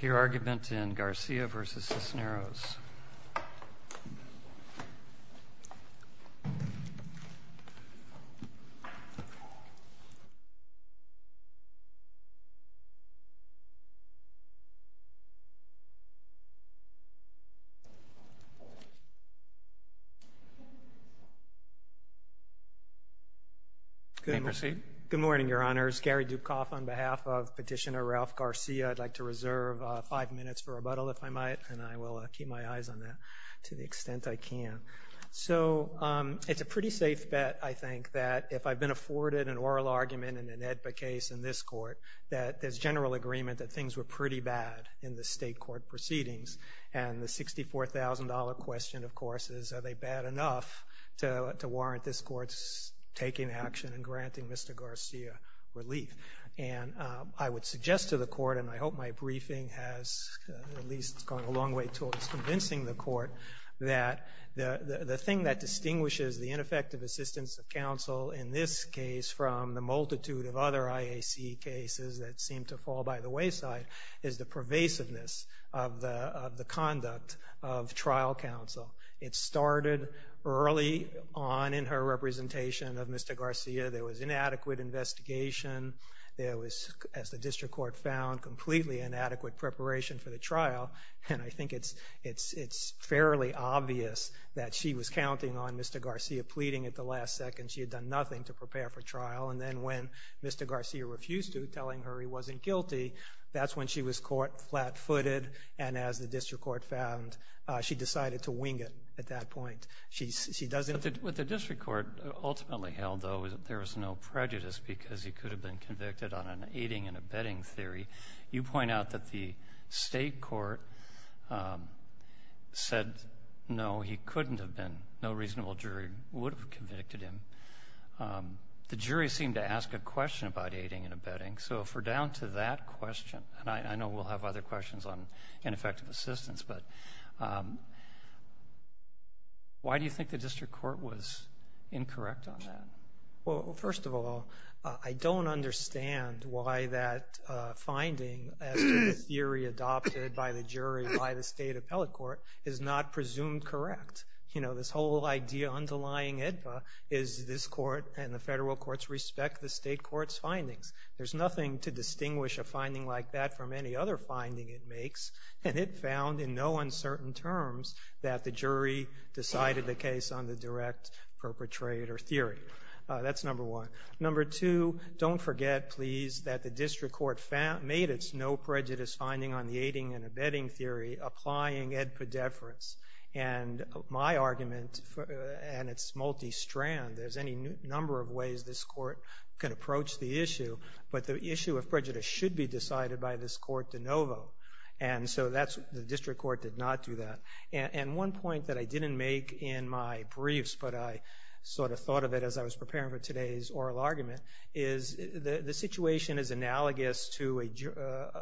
Your argument in Garcia v. Cisneros Good morning, Your Honors. Gary Dukoff on behalf of Petitioner Ralph Garcia. I'd like to reserve five minutes for rebuttal, if I might, and I will keep my eyes on that to the extent I can. So it's a pretty safe bet, I think, that if I've been afforded an oral argument in an AEDPA case in this Court, that there's general agreement that things were pretty bad in the state court proceedings. And the $64,000 question, of course, is are they bad enough to warrant this Court's taking action and granting Mr. Garcia relief? And I would suggest to the Court, and I hope my briefing has at least gone a long way towards convincing the Court, that the thing that distinguishes the ineffective assistance of counsel in this case from the multitude of other IAC cases that seem to fall by the wayside is the pervasiveness of the conduct of trial counsel. It started early on in her representation of Mr. Garcia. There was inadequate investigation. There was, as the district court found, completely inadequate preparation for the trial. And I think it's fairly obvious that she was counting on Mr. Garcia pleading at the last second. She had done nothing to prepare for trial. And then when Mr. Garcia refused to, telling her he wasn't guilty, that's when she was caught flat-footed. And as the district court found, she decided to wing it at that point. She doesn't ---- But the district court ultimately held, though, that there was no prejudice because he could have been convicted on an aiding and abetting theory. You point out that the State court said, no, he couldn't have been. No reasonable jury would have convicted him. The jury seemed to ask a question about aiding and abetting. So if we're down to that question, and I know we'll have other questions on ineffective assistance, but why do you think the district court was incorrect on that? Well, first of all, I don't understand why that finding as to the theory adopted by the jury by the State appellate court is not presumed correct. You know, this whole idea underlying AEDPA is this court and the federal courts respect the State court's findings. There's nothing to distinguish a finding like that from any other finding it makes. And it found in no uncertain terms that the jury decided the case on the direct perpetrator theory. That's number one. Number two, don't forget, please, that the district court made its no prejudice finding on the aiding and abetting theory applying Ed Poddeferens. And my argument, and it's multi-strand, there's any number of ways this court can approach the issue, but the issue of prejudice should be decided by this court de novo. And so the district court did not do that. And one point that I didn't make in my briefs, but I sort of thought of it as I was preparing for today's oral argument, is the situation is analogous to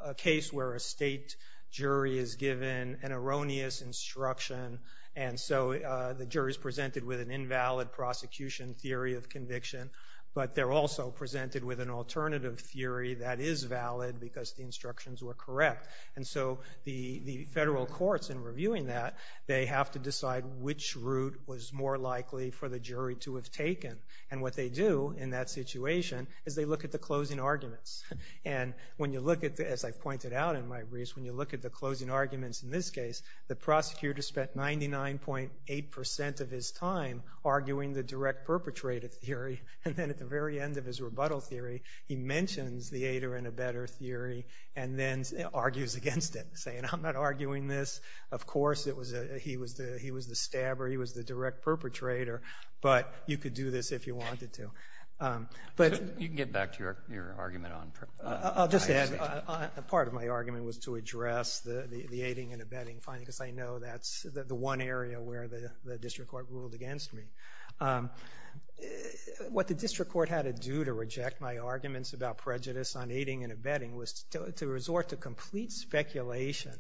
a case where a State jury is given an erroneous instruction. And so the jury is presented with an invalid prosecution theory of conviction, but they're also presented with an alternative theory that is valid because the instructions were correct. And so the federal courts in reviewing that, they have to decide which route was more likely for the jury to have taken. And what they do in that situation is they look at the closing arguments. And when you look at, as I've pointed out in my briefs, when you look at the closing arguments in this case, the prosecutor spent 99.8 percent of his time arguing the direct perpetrator theory. And then at the very end of his rebuttal theory, he mentions the aider and abetter theory and then argues against it, saying, I'm not arguing this. Of course, he was the stabber, he was the direct perpetrator, but you could do this if you wanted to. But you can get back to your argument on... I'll just add, part of my argument was to address the aiding and abetting finding, because I know that's the one area where the district court ruled against me. What the district court had to do to reject my arguments about prejudice on aiding and abetting was to resort to complete speculation,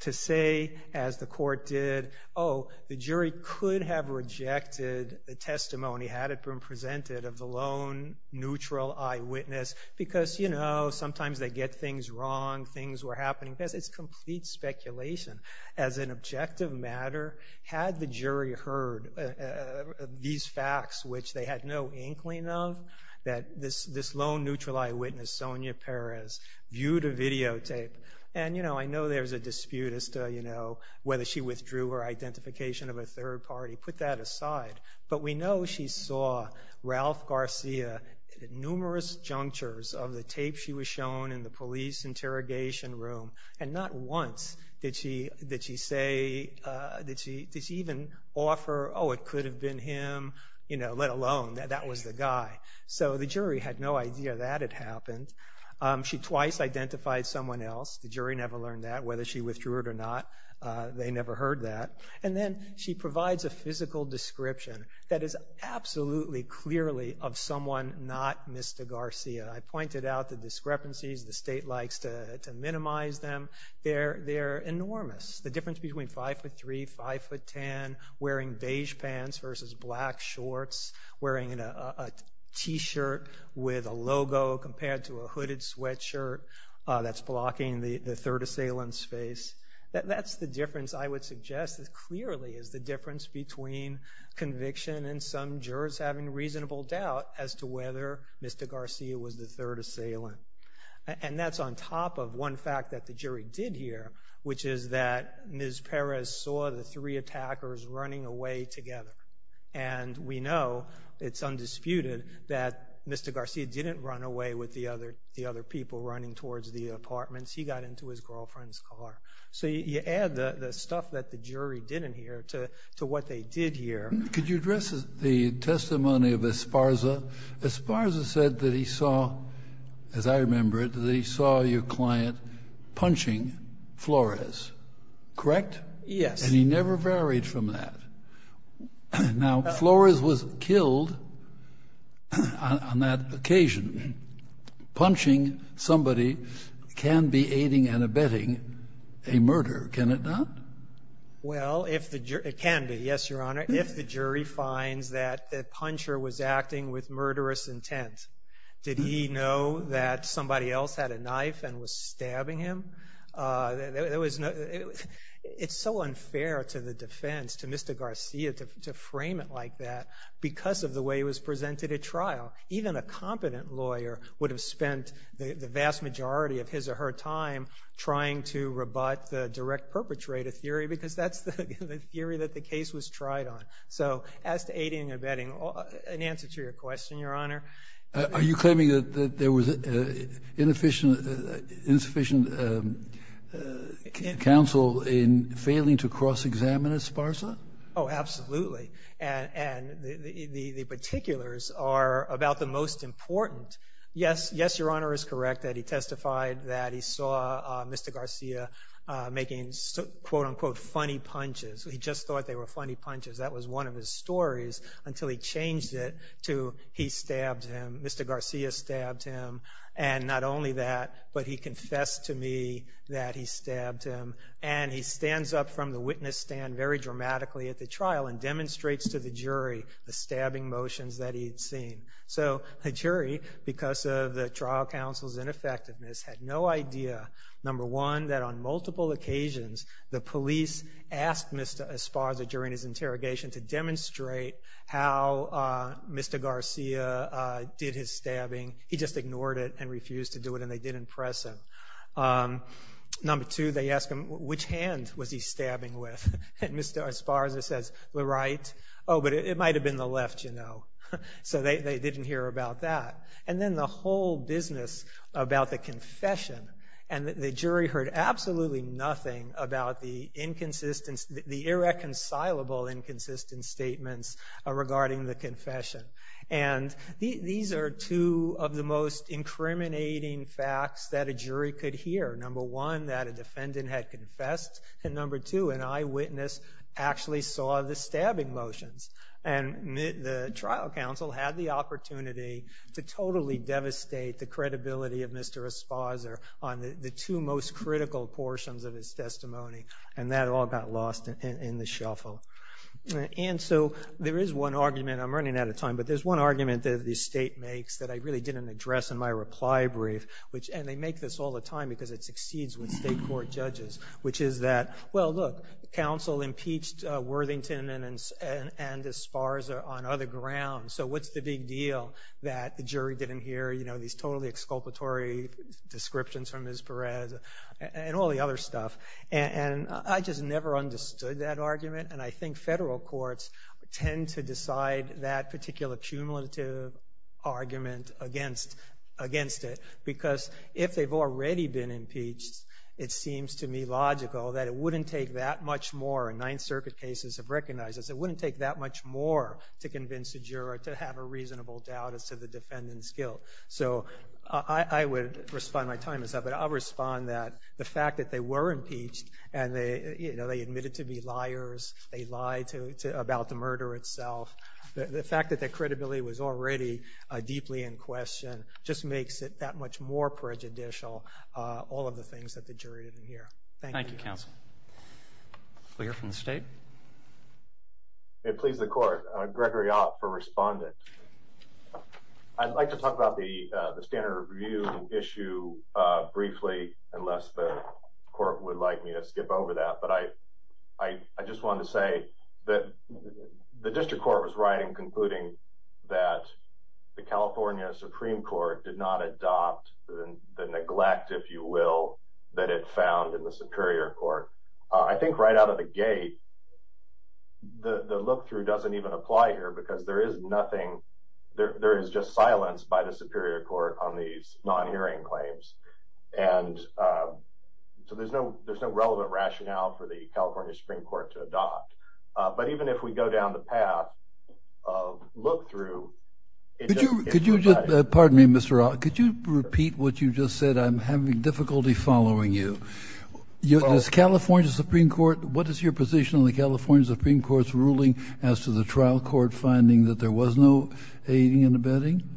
to say, as the court did, oh, the jury could have rejected the testimony had it been presented of the lone, neutral eyewitness, because, you know, sometimes they get things wrong, things were happening, because it's complete speculation. As an objective matter, had the jury heard these facts, which they had no inkling of, that this lone, neutral eyewitness, Sonia Perez, viewed a videotape, and, you know, I know there's a dispute as to, you know, whether she withdrew her identification of a third party, put that aside, but we know she saw Ralph Garcia at numerous junctures of the tape she was shown in the police interrogation room, and not once did she say, did she even offer, oh, it could have been him, you know, let alone that that was the guy. So the jury had no idea that had happened. She twice identified someone else. The jury never learned that, whether she withdrew it or not, they never heard that, and then she provides a physical description that is absolutely clearly of someone not Mr. Garcia. I pointed out the discrepancies. The state likes to minimize them. They're enormous. The difference between 5'3", 5'10", wearing beige pants versus black shorts, wearing a t-shirt with a logo compared to a hooded sweatshirt that's blocking the third assailant's face, that's the difference, I would suggest, that clearly is the difference between conviction and some jurors having reasonable doubt as to whether Mr. Garcia was the third assailant, and that's on top of one fact that the jury did hear, which is that Ms. Perez saw the three attackers running away together, and we know, it's undisputed, that Mr. Garcia didn't run away with the other people running towards the girlfriend's car. So you add the stuff that the jury didn't hear to what they did hear. Could you address the testimony of Esparza? Esparza said that he saw, as I remember it, that he saw your client punching Flores, correct? Yes. And he never varied from that. Now, Flores was killed on that occasion. Punching somebody can be aiding and abetting a murder, can it not? Well, it can be, yes, Your Honor, if the jury finds that the puncher was acting with murderous intent. Did he know that somebody else had a knife and was stabbing him? It's so unfair to the defense, to Mr. Garcia, to frame it like that because of the way it was presented at trial. Even a competent lawyer would have spent the vast majority of his or her time trying to rebut the direct perpetrator theory because that's the theory that the case was tried on. So as to aiding and abetting, an answer to your question, Your Honor. Are you examining Esparza? Oh, absolutely. And the particulars are about the most important. Yes, Your Honor is correct that he testified that he saw Mr. Garcia making, quote-unquote, funny punches. He just thought they were funny punches. That was one of his stories until he changed it to he stabbed him, Mr. Garcia stabbed him. And not only that, but he confessed to me that he stabbed him. And he stands up from the witness stand very dramatically at the trial and demonstrates to the jury the stabbing motions that he had seen. So the jury, because of the trial counsel's ineffectiveness, had no idea, number one, that on multiple occasions the police asked Mr. Esparza during his interrogation to demonstrate how Mr. Garcia did his stabbing. He just ignored it and refused to do it, and they didn't press him. Number two, they asked him, which hand was he stabbing with? And Mr. Esparza says, the right. Oh, but it might have been the left, you know. So they didn't hear about that. And then the whole business about the confession, and the jury heard absolutely nothing about the irreconcilable inconsistent statements regarding the confession. And these are two of the most incriminating facts that a jury could hear. Number one, that a defendant had confessed. And number two, an eyewitness actually saw the stabbing motions. And the trial counsel had the opportunity to totally devastate the credibility of Mr. Esparza on the two most critical portions of his testimony, and that all got lost in the shuffle. And so there is one argument, I'm running out of time, but there's one argument that the state makes that I really didn't address in my reply brief, which, and they make this all the time because it succeeds with state court judges, which is that, well, look, counsel impeached Worthington and Esparza on other grounds, so what's the big deal that the jury didn't hear, you know, these totally exculpatory descriptions from Ms. Perez, and all the other stuff. And I just never understood that argument, and I think federal courts tend to decide that particular cumulative argument against it, because if they've already been impeached, it seems to me logical that it wouldn't take that much more, and Ninth Circuit cases have recognized this, it wouldn't take that much more to convince a juror to have a reasonable doubt as to the defendant's I would respond, my time is up, but I'll respond that the fact that they were impeached, and they, you know, they admitted to be liars, they lied about the murder itself, the fact that their credibility was already deeply in question just makes it that much more prejudicial, all of the things that the jury didn't hear. Thank you. Thank you, counsel. We'll hear from the state. May it please the court, Gregory Ott for Respondent. I'd like to talk about the standard review issue briefly, unless the court would like me to skip over that, but I just wanted to say that the district court was right in concluding that the California Supreme Court did not adopt the neglect, if you will, that it found in the Superior Court. I think right out of the gate, the look-through doesn't even apply here, because there is nothing, there is just silence by the Superior Court on these non-hearing claims, and so there's no relevant rationale for the California Supreme Court to adopt. But even if we go down the path of look-through, it just, it's not that easy. Could you, pardon me, Mr. Ott, could you repeat what you just said? I'm having difficulty following you. This California Supreme Court, what is your position on the California Supreme Court's ruling as to the trial court finding that there was no aiding and abetting?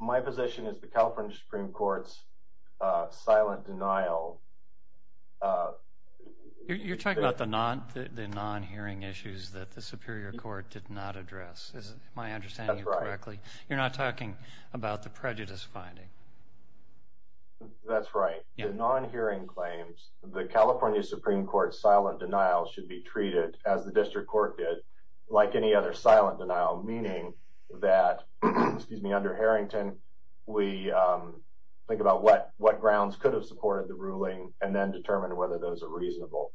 My position is the California Supreme Court's silent denial... You're talking about the non-hearing issues that the Superior Court did not address, is my understanding correctly? That's right. You're not talking about the prejudice finding? That's right. The non-hearing claims, the California Supreme Court's silent denial should be treated, as the district court did, like any other silent denial, meaning that, excuse me, under Harrington, we think about what grounds could have supported the ruling, and then determine whether those are reasonable.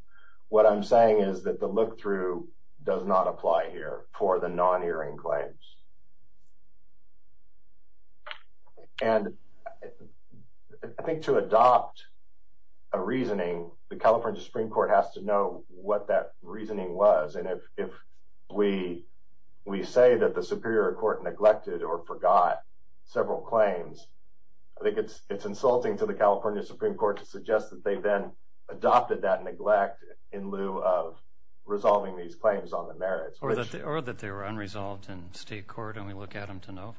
What I'm saying is that the look-through does not apply here for the non-hearing claims. And I think to adopt a reasoning, the California Supreme Court has to know what that reasoning was, and if we say that the Superior Court neglected or forgot several claims, I think it's insulting to the California Supreme Court to suggest that they then adopted that neglect in lieu of resolving these claims on the merits. Or that they were unresolved in state court, and we look at them to know?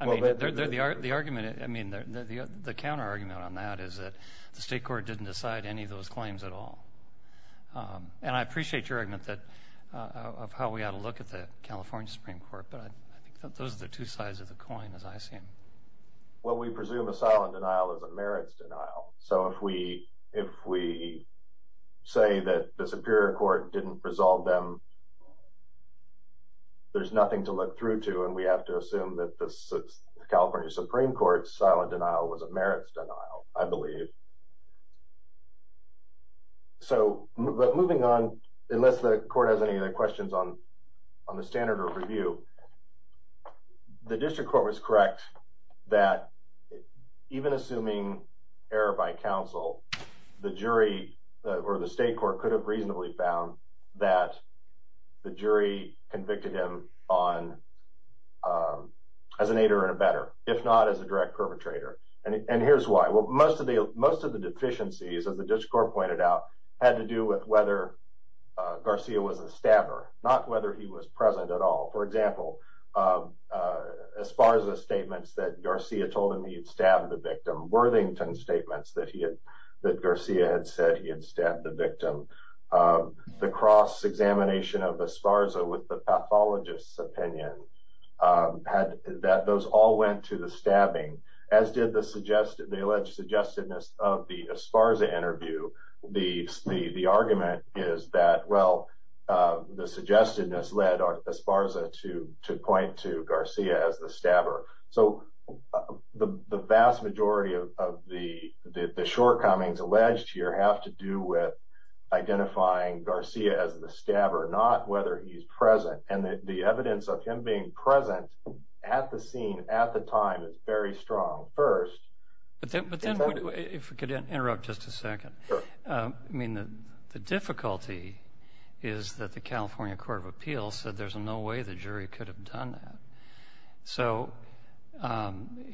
I mean, the counter-argument on that is that the state court didn't decide any of those claims at all. And I appreciate your argument of how we ought to look at the California Supreme Court, but I think that those are the two sides of the coin, as I see them. Well, we presume a silent denial is a merits denial. So if we say that the Superior Court didn't resolve them, there's nothing to look through to, and we have to assume that the California Supreme Court's silent denial was a merits denial, I believe. So moving on, unless the Court has any other questions on the standard of review, the district court was correct that even assuming error by counsel, the jury or the state court could have reasonably found that the jury convicted him as an aider and abetter, if not as a direct perpetrator. And here's why. Most of the deficiencies, as the district court pointed out, had to do with whether Garcia was a stabber, not whether he was present at all. For example, Esparza's statements that Garcia told him he had stabbed the victim, Worthington's statements that Garcia had said he had stabbed the victim, the cross-examination of Esparza with the pathologist's opinion, those all went to the stabbing, as did the alleged suggestedness of the Esparza interview. The argument is that, well, the suggestedness led Esparza to point to Garcia as the stabber. So the vast majority of the shortcomings alleged here have to do with identifying Garcia as the stabber, not whether he's present. And the evidence of him being present at the scene at the time is very strong. But then, if we could interrupt just a second, I mean, the difficulty is that the California Court of Appeals said there's no way the jury could have done that. So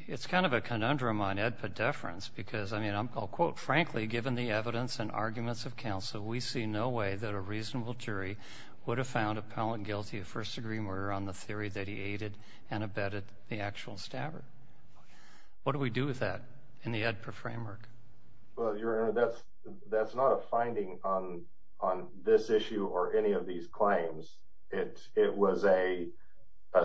it's kind of a conundrum on edpedeference because, I mean, I'll quote, Frankly, given the evidence and arguments of counsel, we see no way that a reasonable jury would have found appellant guilty of first-degree murder on the theory that he aided and abetted the actual stabber. What do we do with that in the EDPA framework? Well, Your Honor, that's not a finding on this issue or any of these claims. It was a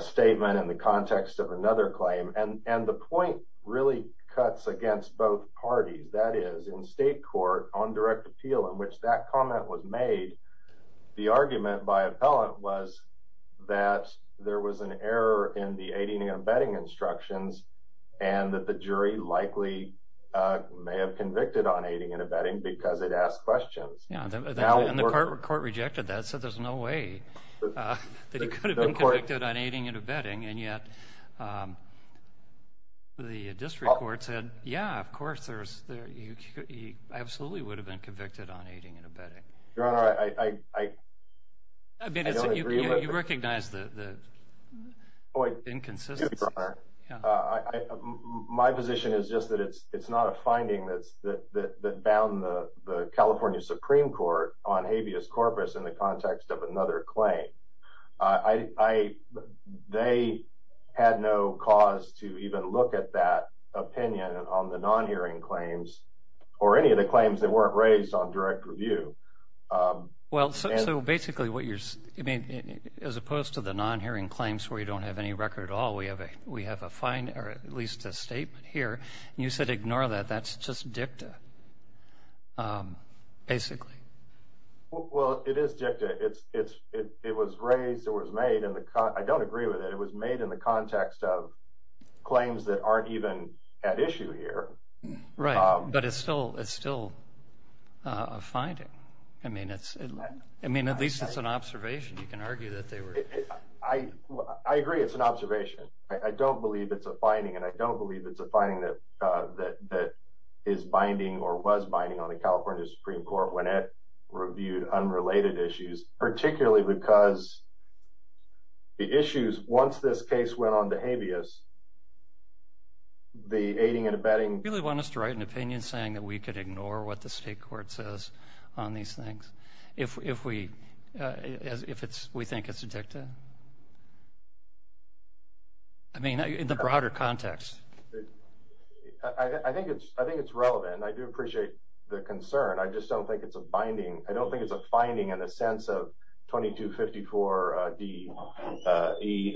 statement in the context of another claim. And the point really cuts against both parties. That is, in state court, on direct appeal, in which that comment was made, the argument by appellant was that there was an error in the aiding and abetting instructions and that the jury likely may have convicted on aiding and abetting because it asked questions. And the court rejected that, said there's no way that he could have been convicted on He absolutely would have been convicted on aiding and abetting. Your Honor, I don't agree with it. You recognize the inconsistencies. I do, Your Honor. My position is just that it's not a finding that bound the California Supreme Court on habeas corpus in the context of another claim. They had no cause to even look at that opinion on the non-hearing claims or any of the claims that weren't raised on direct review. Well, so basically what you're saying, as opposed to the non-hearing claims where you don't have any record at all, we have a finding or at least a statement here. You said ignore that. That's just dicta, basically. Well, it is dicta. It was raised, it was made, and I don't agree with it. It was made in the context of claims that aren't even at issue here. Right, but it's still a finding. I mean, at least it's an observation. You can argue that they were... I agree it's an observation. I don't believe it's a finding, and I don't believe it's a finding that is binding or was binding on the California Supreme Court when it reviewed unrelated issues, particularly because the issues, once this case went on to habeas, the aiding and abetting... Do you really want us to write an opinion saying that we could ignore what the state court says on these things if we think it's a dicta? I mean, in the broader context. I think it's relevant. I do appreciate the concern. I just don't think it's a binding... I don't think it's a finding in the sense of 2254 D.E.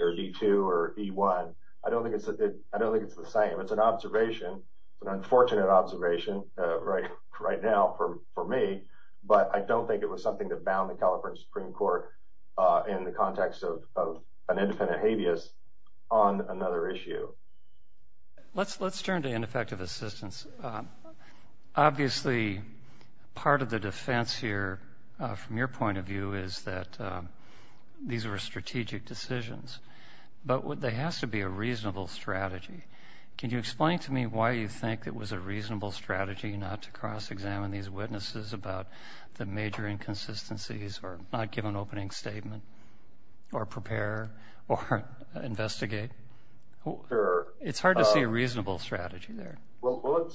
or D.2 or D.1. I don't think it's the same. It's an observation, an unfortunate observation right now for me, but I don't think it was something that bound the California Supreme Court in the context of an independent habeas on another issue. Let's turn to ineffective assistance. Obviously, part of the defense here, from your point of view, is that these were strategic decisions, but there has to be a reasonable strategy. Can you explain to me why you think it was a reasonable strategy not to cross-examine these witnesses about the major inconsistencies or not give an opening statement or prepare or investigate? Sure. It's hard to see a reasonable strategy there. Well,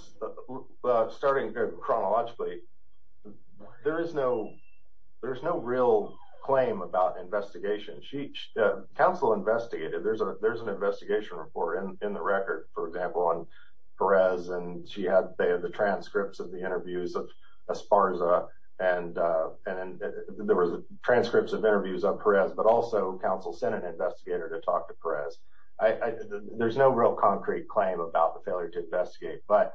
starting chronologically, there is no real claim about investigation. Counsel investigated. There's an investigation report in the record, for example, on Perez, and she had the transcripts of the interviews of Esparza, and there was transcripts of interviews of Perez, but also from counsel sent an investigator to talk to Perez. There's no real concrete claim about the failure to investigate, but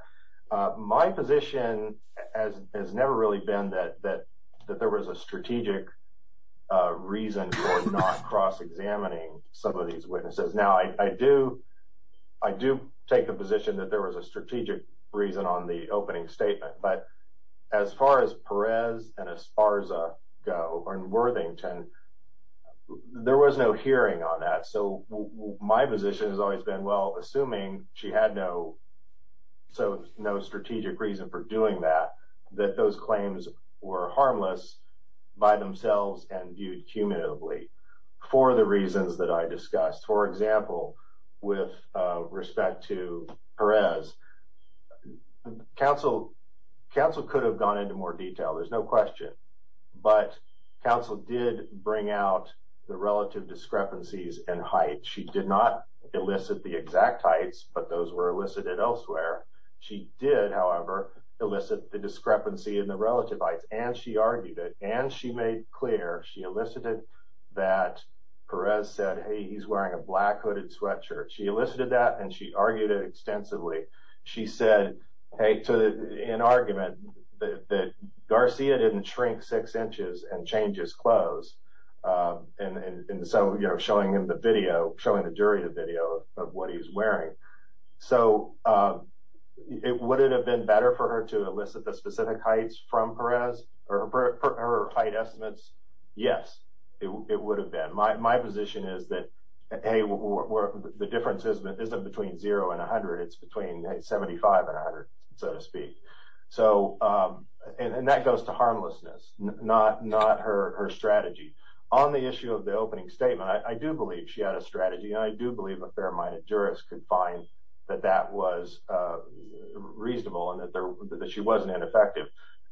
my position has never really been that there was a strategic reason for not cross-examining some of these witnesses. Now, I do take the position that there was a strategic reason on the opening statement, but as far as Perez and Esparza go in Worthington, there was no hearing on that, so my position has always been, well, assuming she had no strategic reason for doing that, that those claims were harmless by themselves and viewed cumulatively for the reasons that I discussed. For example, with respect to Perez, counsel could have gone into more detail. There's no question, but counsel did bring out the relative discrepancies in height. She did not elicit the exact heights, but those were elicited elsewhere. She did, however, elicit the discrepancy in the relative heights, and she argued it, and she made clear, she elicited that Perez said, hey, he's wearing a black hooded sweatshirt. She elicited that, and she argued it extensively. She said, hey, to an argument that Garcia didn't shrink six inches and change his clothes, and so, you know, showing him the video, showing the durative video of what he's wearing. So, would it have been better for her to elicit the specific heights from Perez, or her height estimates? Yes, it would have been. My position is that, hey, the difference isn't between zero and 100. It's between 75 and 100, so to speak, and that goes to harmlessness, not her strategy. On the issue of the opening statement, I do believe she had a strategy, and I do believe a fair-minded jurist could find that that was reasonable and that she wasn't ineffective,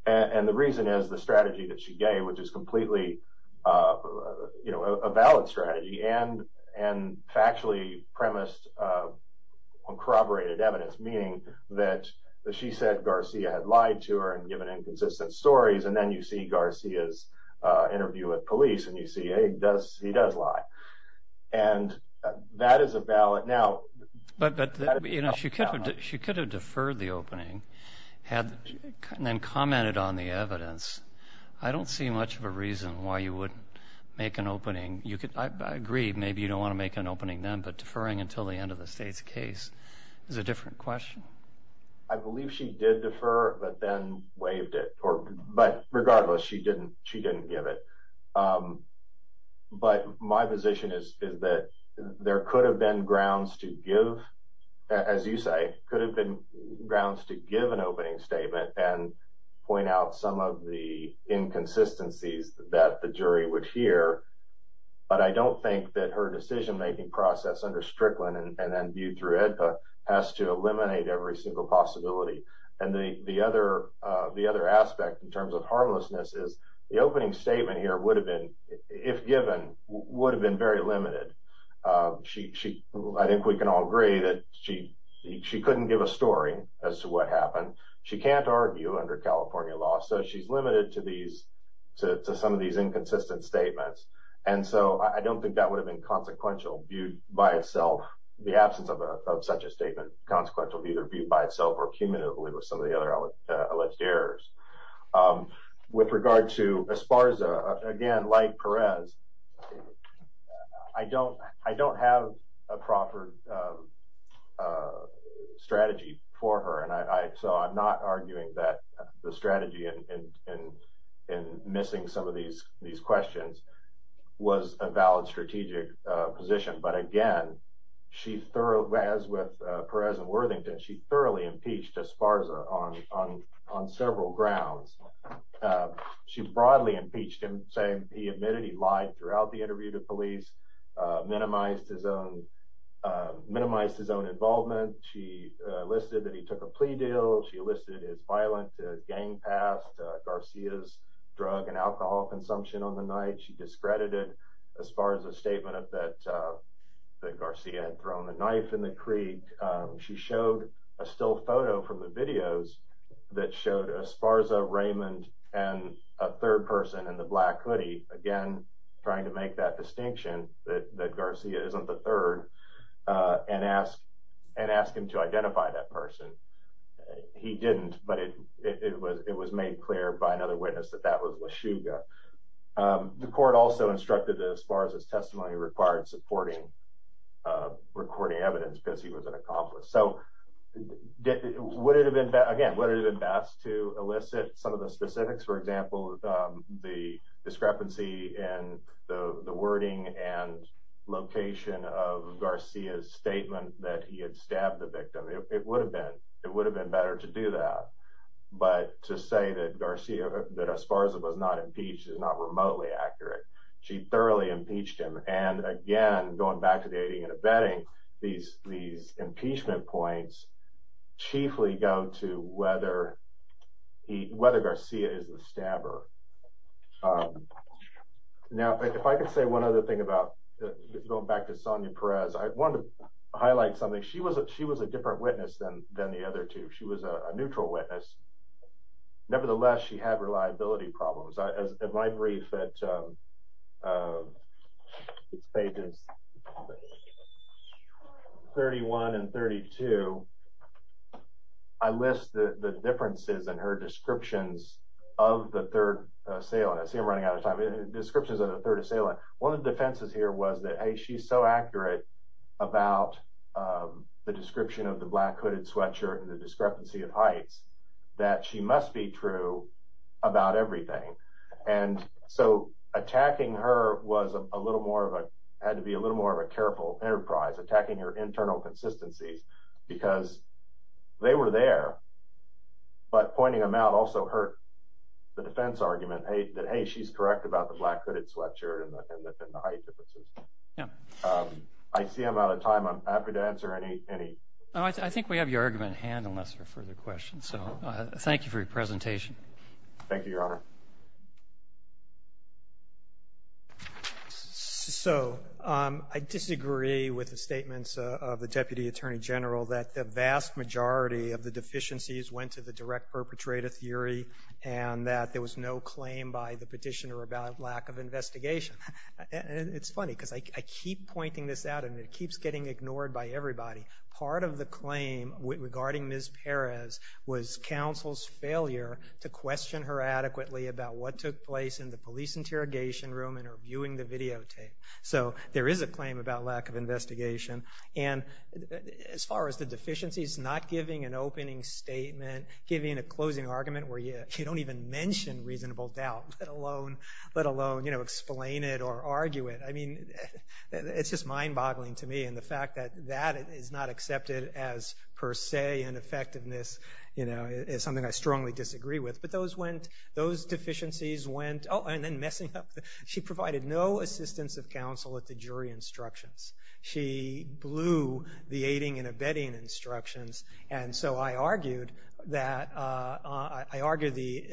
and the reason is the strategy that she gave, which is completely, you know, a valid strategy and factually premised on corroborated evidence, meaning that she said Garcia had lied to her and given inconsistent stories, and then you see Garcia's interview with police, and you see, hey, he does lie. And that is a valid... But, you know, she could have deferred the opening and then commented on the evidence. I don't see much of a reason why you wouldn't make an opening. I agree, maybe you don't want to make an opening then, but deferring until the end of the state's case is a different question. I believe she did defer, but then waived it, but regardless, she didn't give it. But my position is that there could have been grounds to give, as you say, could have been grounds to give an opening statement and point out some of the inconsistencies that the jury would hear, but I don't think that her decision-making process under Strickland and then viewed through AEDPA has to eliminate every single possibility. And the other aspect in terms of harmlessness is the opening statement here would have been, if given, would have been very limited. I think we can all agree that she couldn't give a story as to what happened. She can't argue under California law, so she's limited to some of these inconsistent statements. And so I don't think that would have been consequential viewed by itself, the absence of such a statement, consequential viewed by itself or cumulatively with some of the other alleged errors. With regard to Esparza, again, like Perez, I don't have a proper strategy for her, so I'm not arguing that the strategy in missing some of these questions was a valid strategic position, but again, as with Perez and Worthington, she thoroughly impeached Esparza on several grounds. She broadly impeached him, saying he admitted he lied throughout the interview to police, minimized his own involvement. She listed that he took a plea deal. She listed his violent gang past, Garcia's drug and alcohol consumption on the night. She discredited Esparza's statement that Garcia had thrown a knife in the creek. She showed a still photo from the videos that showed Esparza, Raymond, and a third person in the black hoodie, again, trying to make that distinction that Garcia isn't the third and ask him to identify that person. He didn't, but it was made clear by another witness that that was LaChuga. The court also instructed that Esparza's testimony required supporting recording evidence because he was an accomplice, so again, would it have been best to elicit some of the specifics, for example, the discrepancy in the wording and location of Garcia's statement that he had stabbed the victim? It would have been better to do that, but to say that Esparza was not impeached and not remotely accurate, she thoroughly impeached him, and again, going back to dating and abetting, these impeachment points chiefly go to whether Garcia is the stabber. Now, if I could say one other thing about, going back to Sonia Perez, I wanted to highlight something. She was a different witness than the other two. She was a neutral witness. Nevertheless, she had reliability problems. In my brief at pages 31 and 32, I list the differences in her descriptions of the third assailant. I see I'm running out of time. Descriptions of the third assailant, one of the defenses here was that, hey, she's so true about everything, and so attacking her had to be a little more of a careful enterprise, attacking her internal consistencies, because they were there, but pointing them out also hurt the defense argument that, hey, she's correct about the black hooded sweatshirt and the height differences. I see I'm out of time. I'm happy to answer any. I think we have your argument at hand unless there are further questions. So thank you for your presentation. Thank you, Your Honor. So I disagree with the statements of the Deputy Attorney General that the vast majority of the deficiencies went to the direct perpetrator theory and that there was no claim by the petitioner about lack of investigation. It's funny, because I keep pointing this out and it keeps getting ignored by everybody. Part of the claim regarding Ms. Perez was counsel's failure to question her adequately about what took place in the police interrogation room and her viewing the videotape. So there is a claim about lack of investigation. And as far as the deficiencies, not giving an opening statement, giving a closing argument where you don't even mention reasonable doubt, let alone explain it or argue it. I mean, it's just mind-boggling to me. And the fact that that is not accepted as per se an effectiveness is something I strongly disagree with. But those deficiencies went. Oh, and then messing up. She provided no assistance of counsel at the jury instructions. She blew the aiding and abetting instructions. And so I argued that, I argued the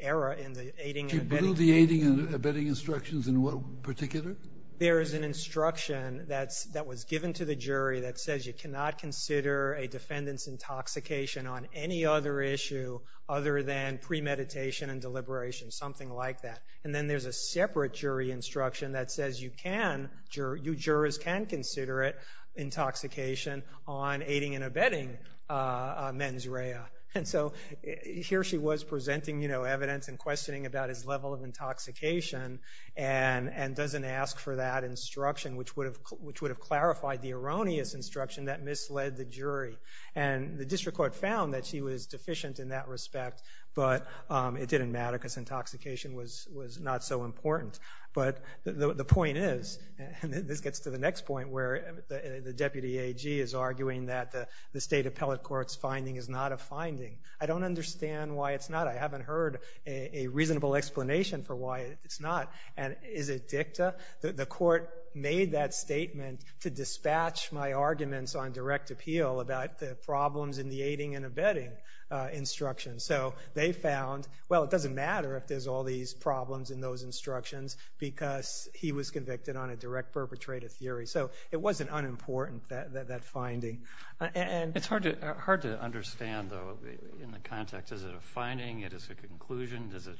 error in the aiding and abetting. She blew the aiding and abetting instructions in what particular? There is an instruction that was given to the jury that says you cannot consider a defendant's intoxication on any other issue other than premeditation and deliberation, something like that. And then there's a separate jury instruction that says you can, you jurors can consider it, on aiding and abetting mens rea. And so here she was presenting, you know, evidence and questioning about his level of intoxication and doesn't ask for that instruction, which would have clarified the erroneous instruction that misled the jury. And the district court found that she was deficient in that respect, but it didn't matter because intoxication was not so important. But the point is, and this gets to the next point where the deputy AG is arguing that the state appellate court's finding is not a finding. I don't understand why it's not. I haven't heard a reasonable explanation for why it's not. And is it dicta? The court made that statement to dispatch my arguments on direct appeal about the problems in the aiding and abetting instructions. So they found, well, it doesn't matter if there's all these problems in those instructions because he was convicted on a direct perpetrator theory. So it wasn't unimportant, that finding. It's hard to understand, though, in the context. Is it a finding? Is it a conclusion? Is it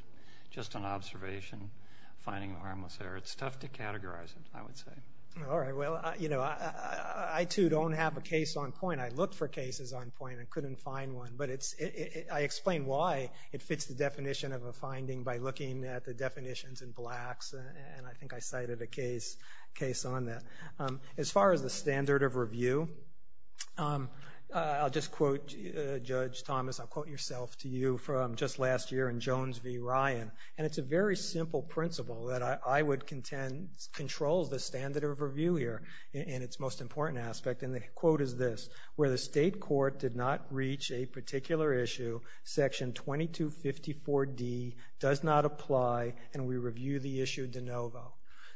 just an observation, finding harmless error? It's tough to categorize it, I would say. All right. Well, you know, I, too, don't have a case on point. I looked for cases on point and couldn't find one. But I explain why it fits the definition of a finding by looking at the definitions in Blacks, and I think I cited a case on that. As far as the standard of review, I'll just quote Judge Thomas. I'll quote yourself to you from just last year in Jones v. Ryan. And it's a very simple principle that I would contend controls the standard of review here in its most important aspect. And the quote is this. Where the state court did not reach a particular issue, Section 2254D does not apply, and we review the issue de novo.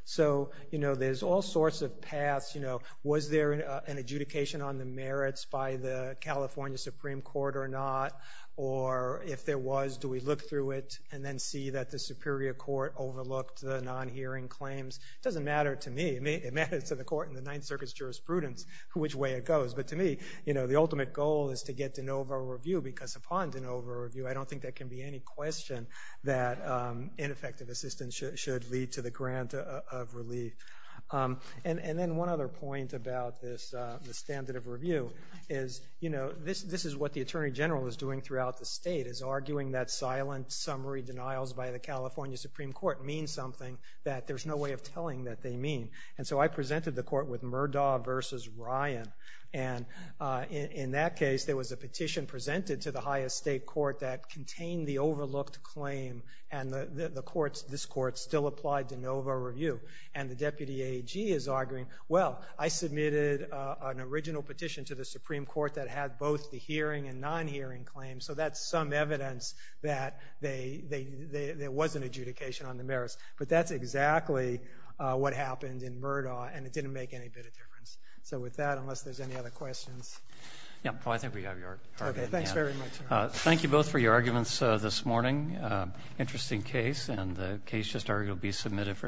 So, you know, there's all sorts of paths, you know. Was there an adjudication on the merits by the California Supreme Court or not? Or if there was, do we look through it and then see that the superior court overlooked the non-hearing claims? It doesn't matter to me. It matters to the court in the Ninth Circuit's jurisprudence which way it goes. But to me, you know, the ultimate goal is to get de novo review because upon de novo review, I don't think there can be any question that ineffective assistance should lead to the grant of relief. And then one other point about this standard of review is, you know, this is what the Attorney General is doing throughout the state, is arguing that silent summary denials by the California Supreme Court means something that there's no way of telling that they mean. And so I presented the court with Murdaugh versus Ryan, and in that case, there was a petition presented to the highest state court that contained the overlooked claim, and this court still applied de novo review. And the deputy AG is arguing, well, I submitted an original petition to the Supreme Court that had both the hearing and non-hearing claims, so that's some evidence that there was an adjudication on the merits. But that's exactly what happened in Murdaugh, and it didn't make any bit of difference. So with that, unless there's any other questions. Yeah. Well, I think we have your argument. Okay. Thanks very much. Thank you both for your arguments this morning. Interesting case, and the case just argued will be submitted for discussion.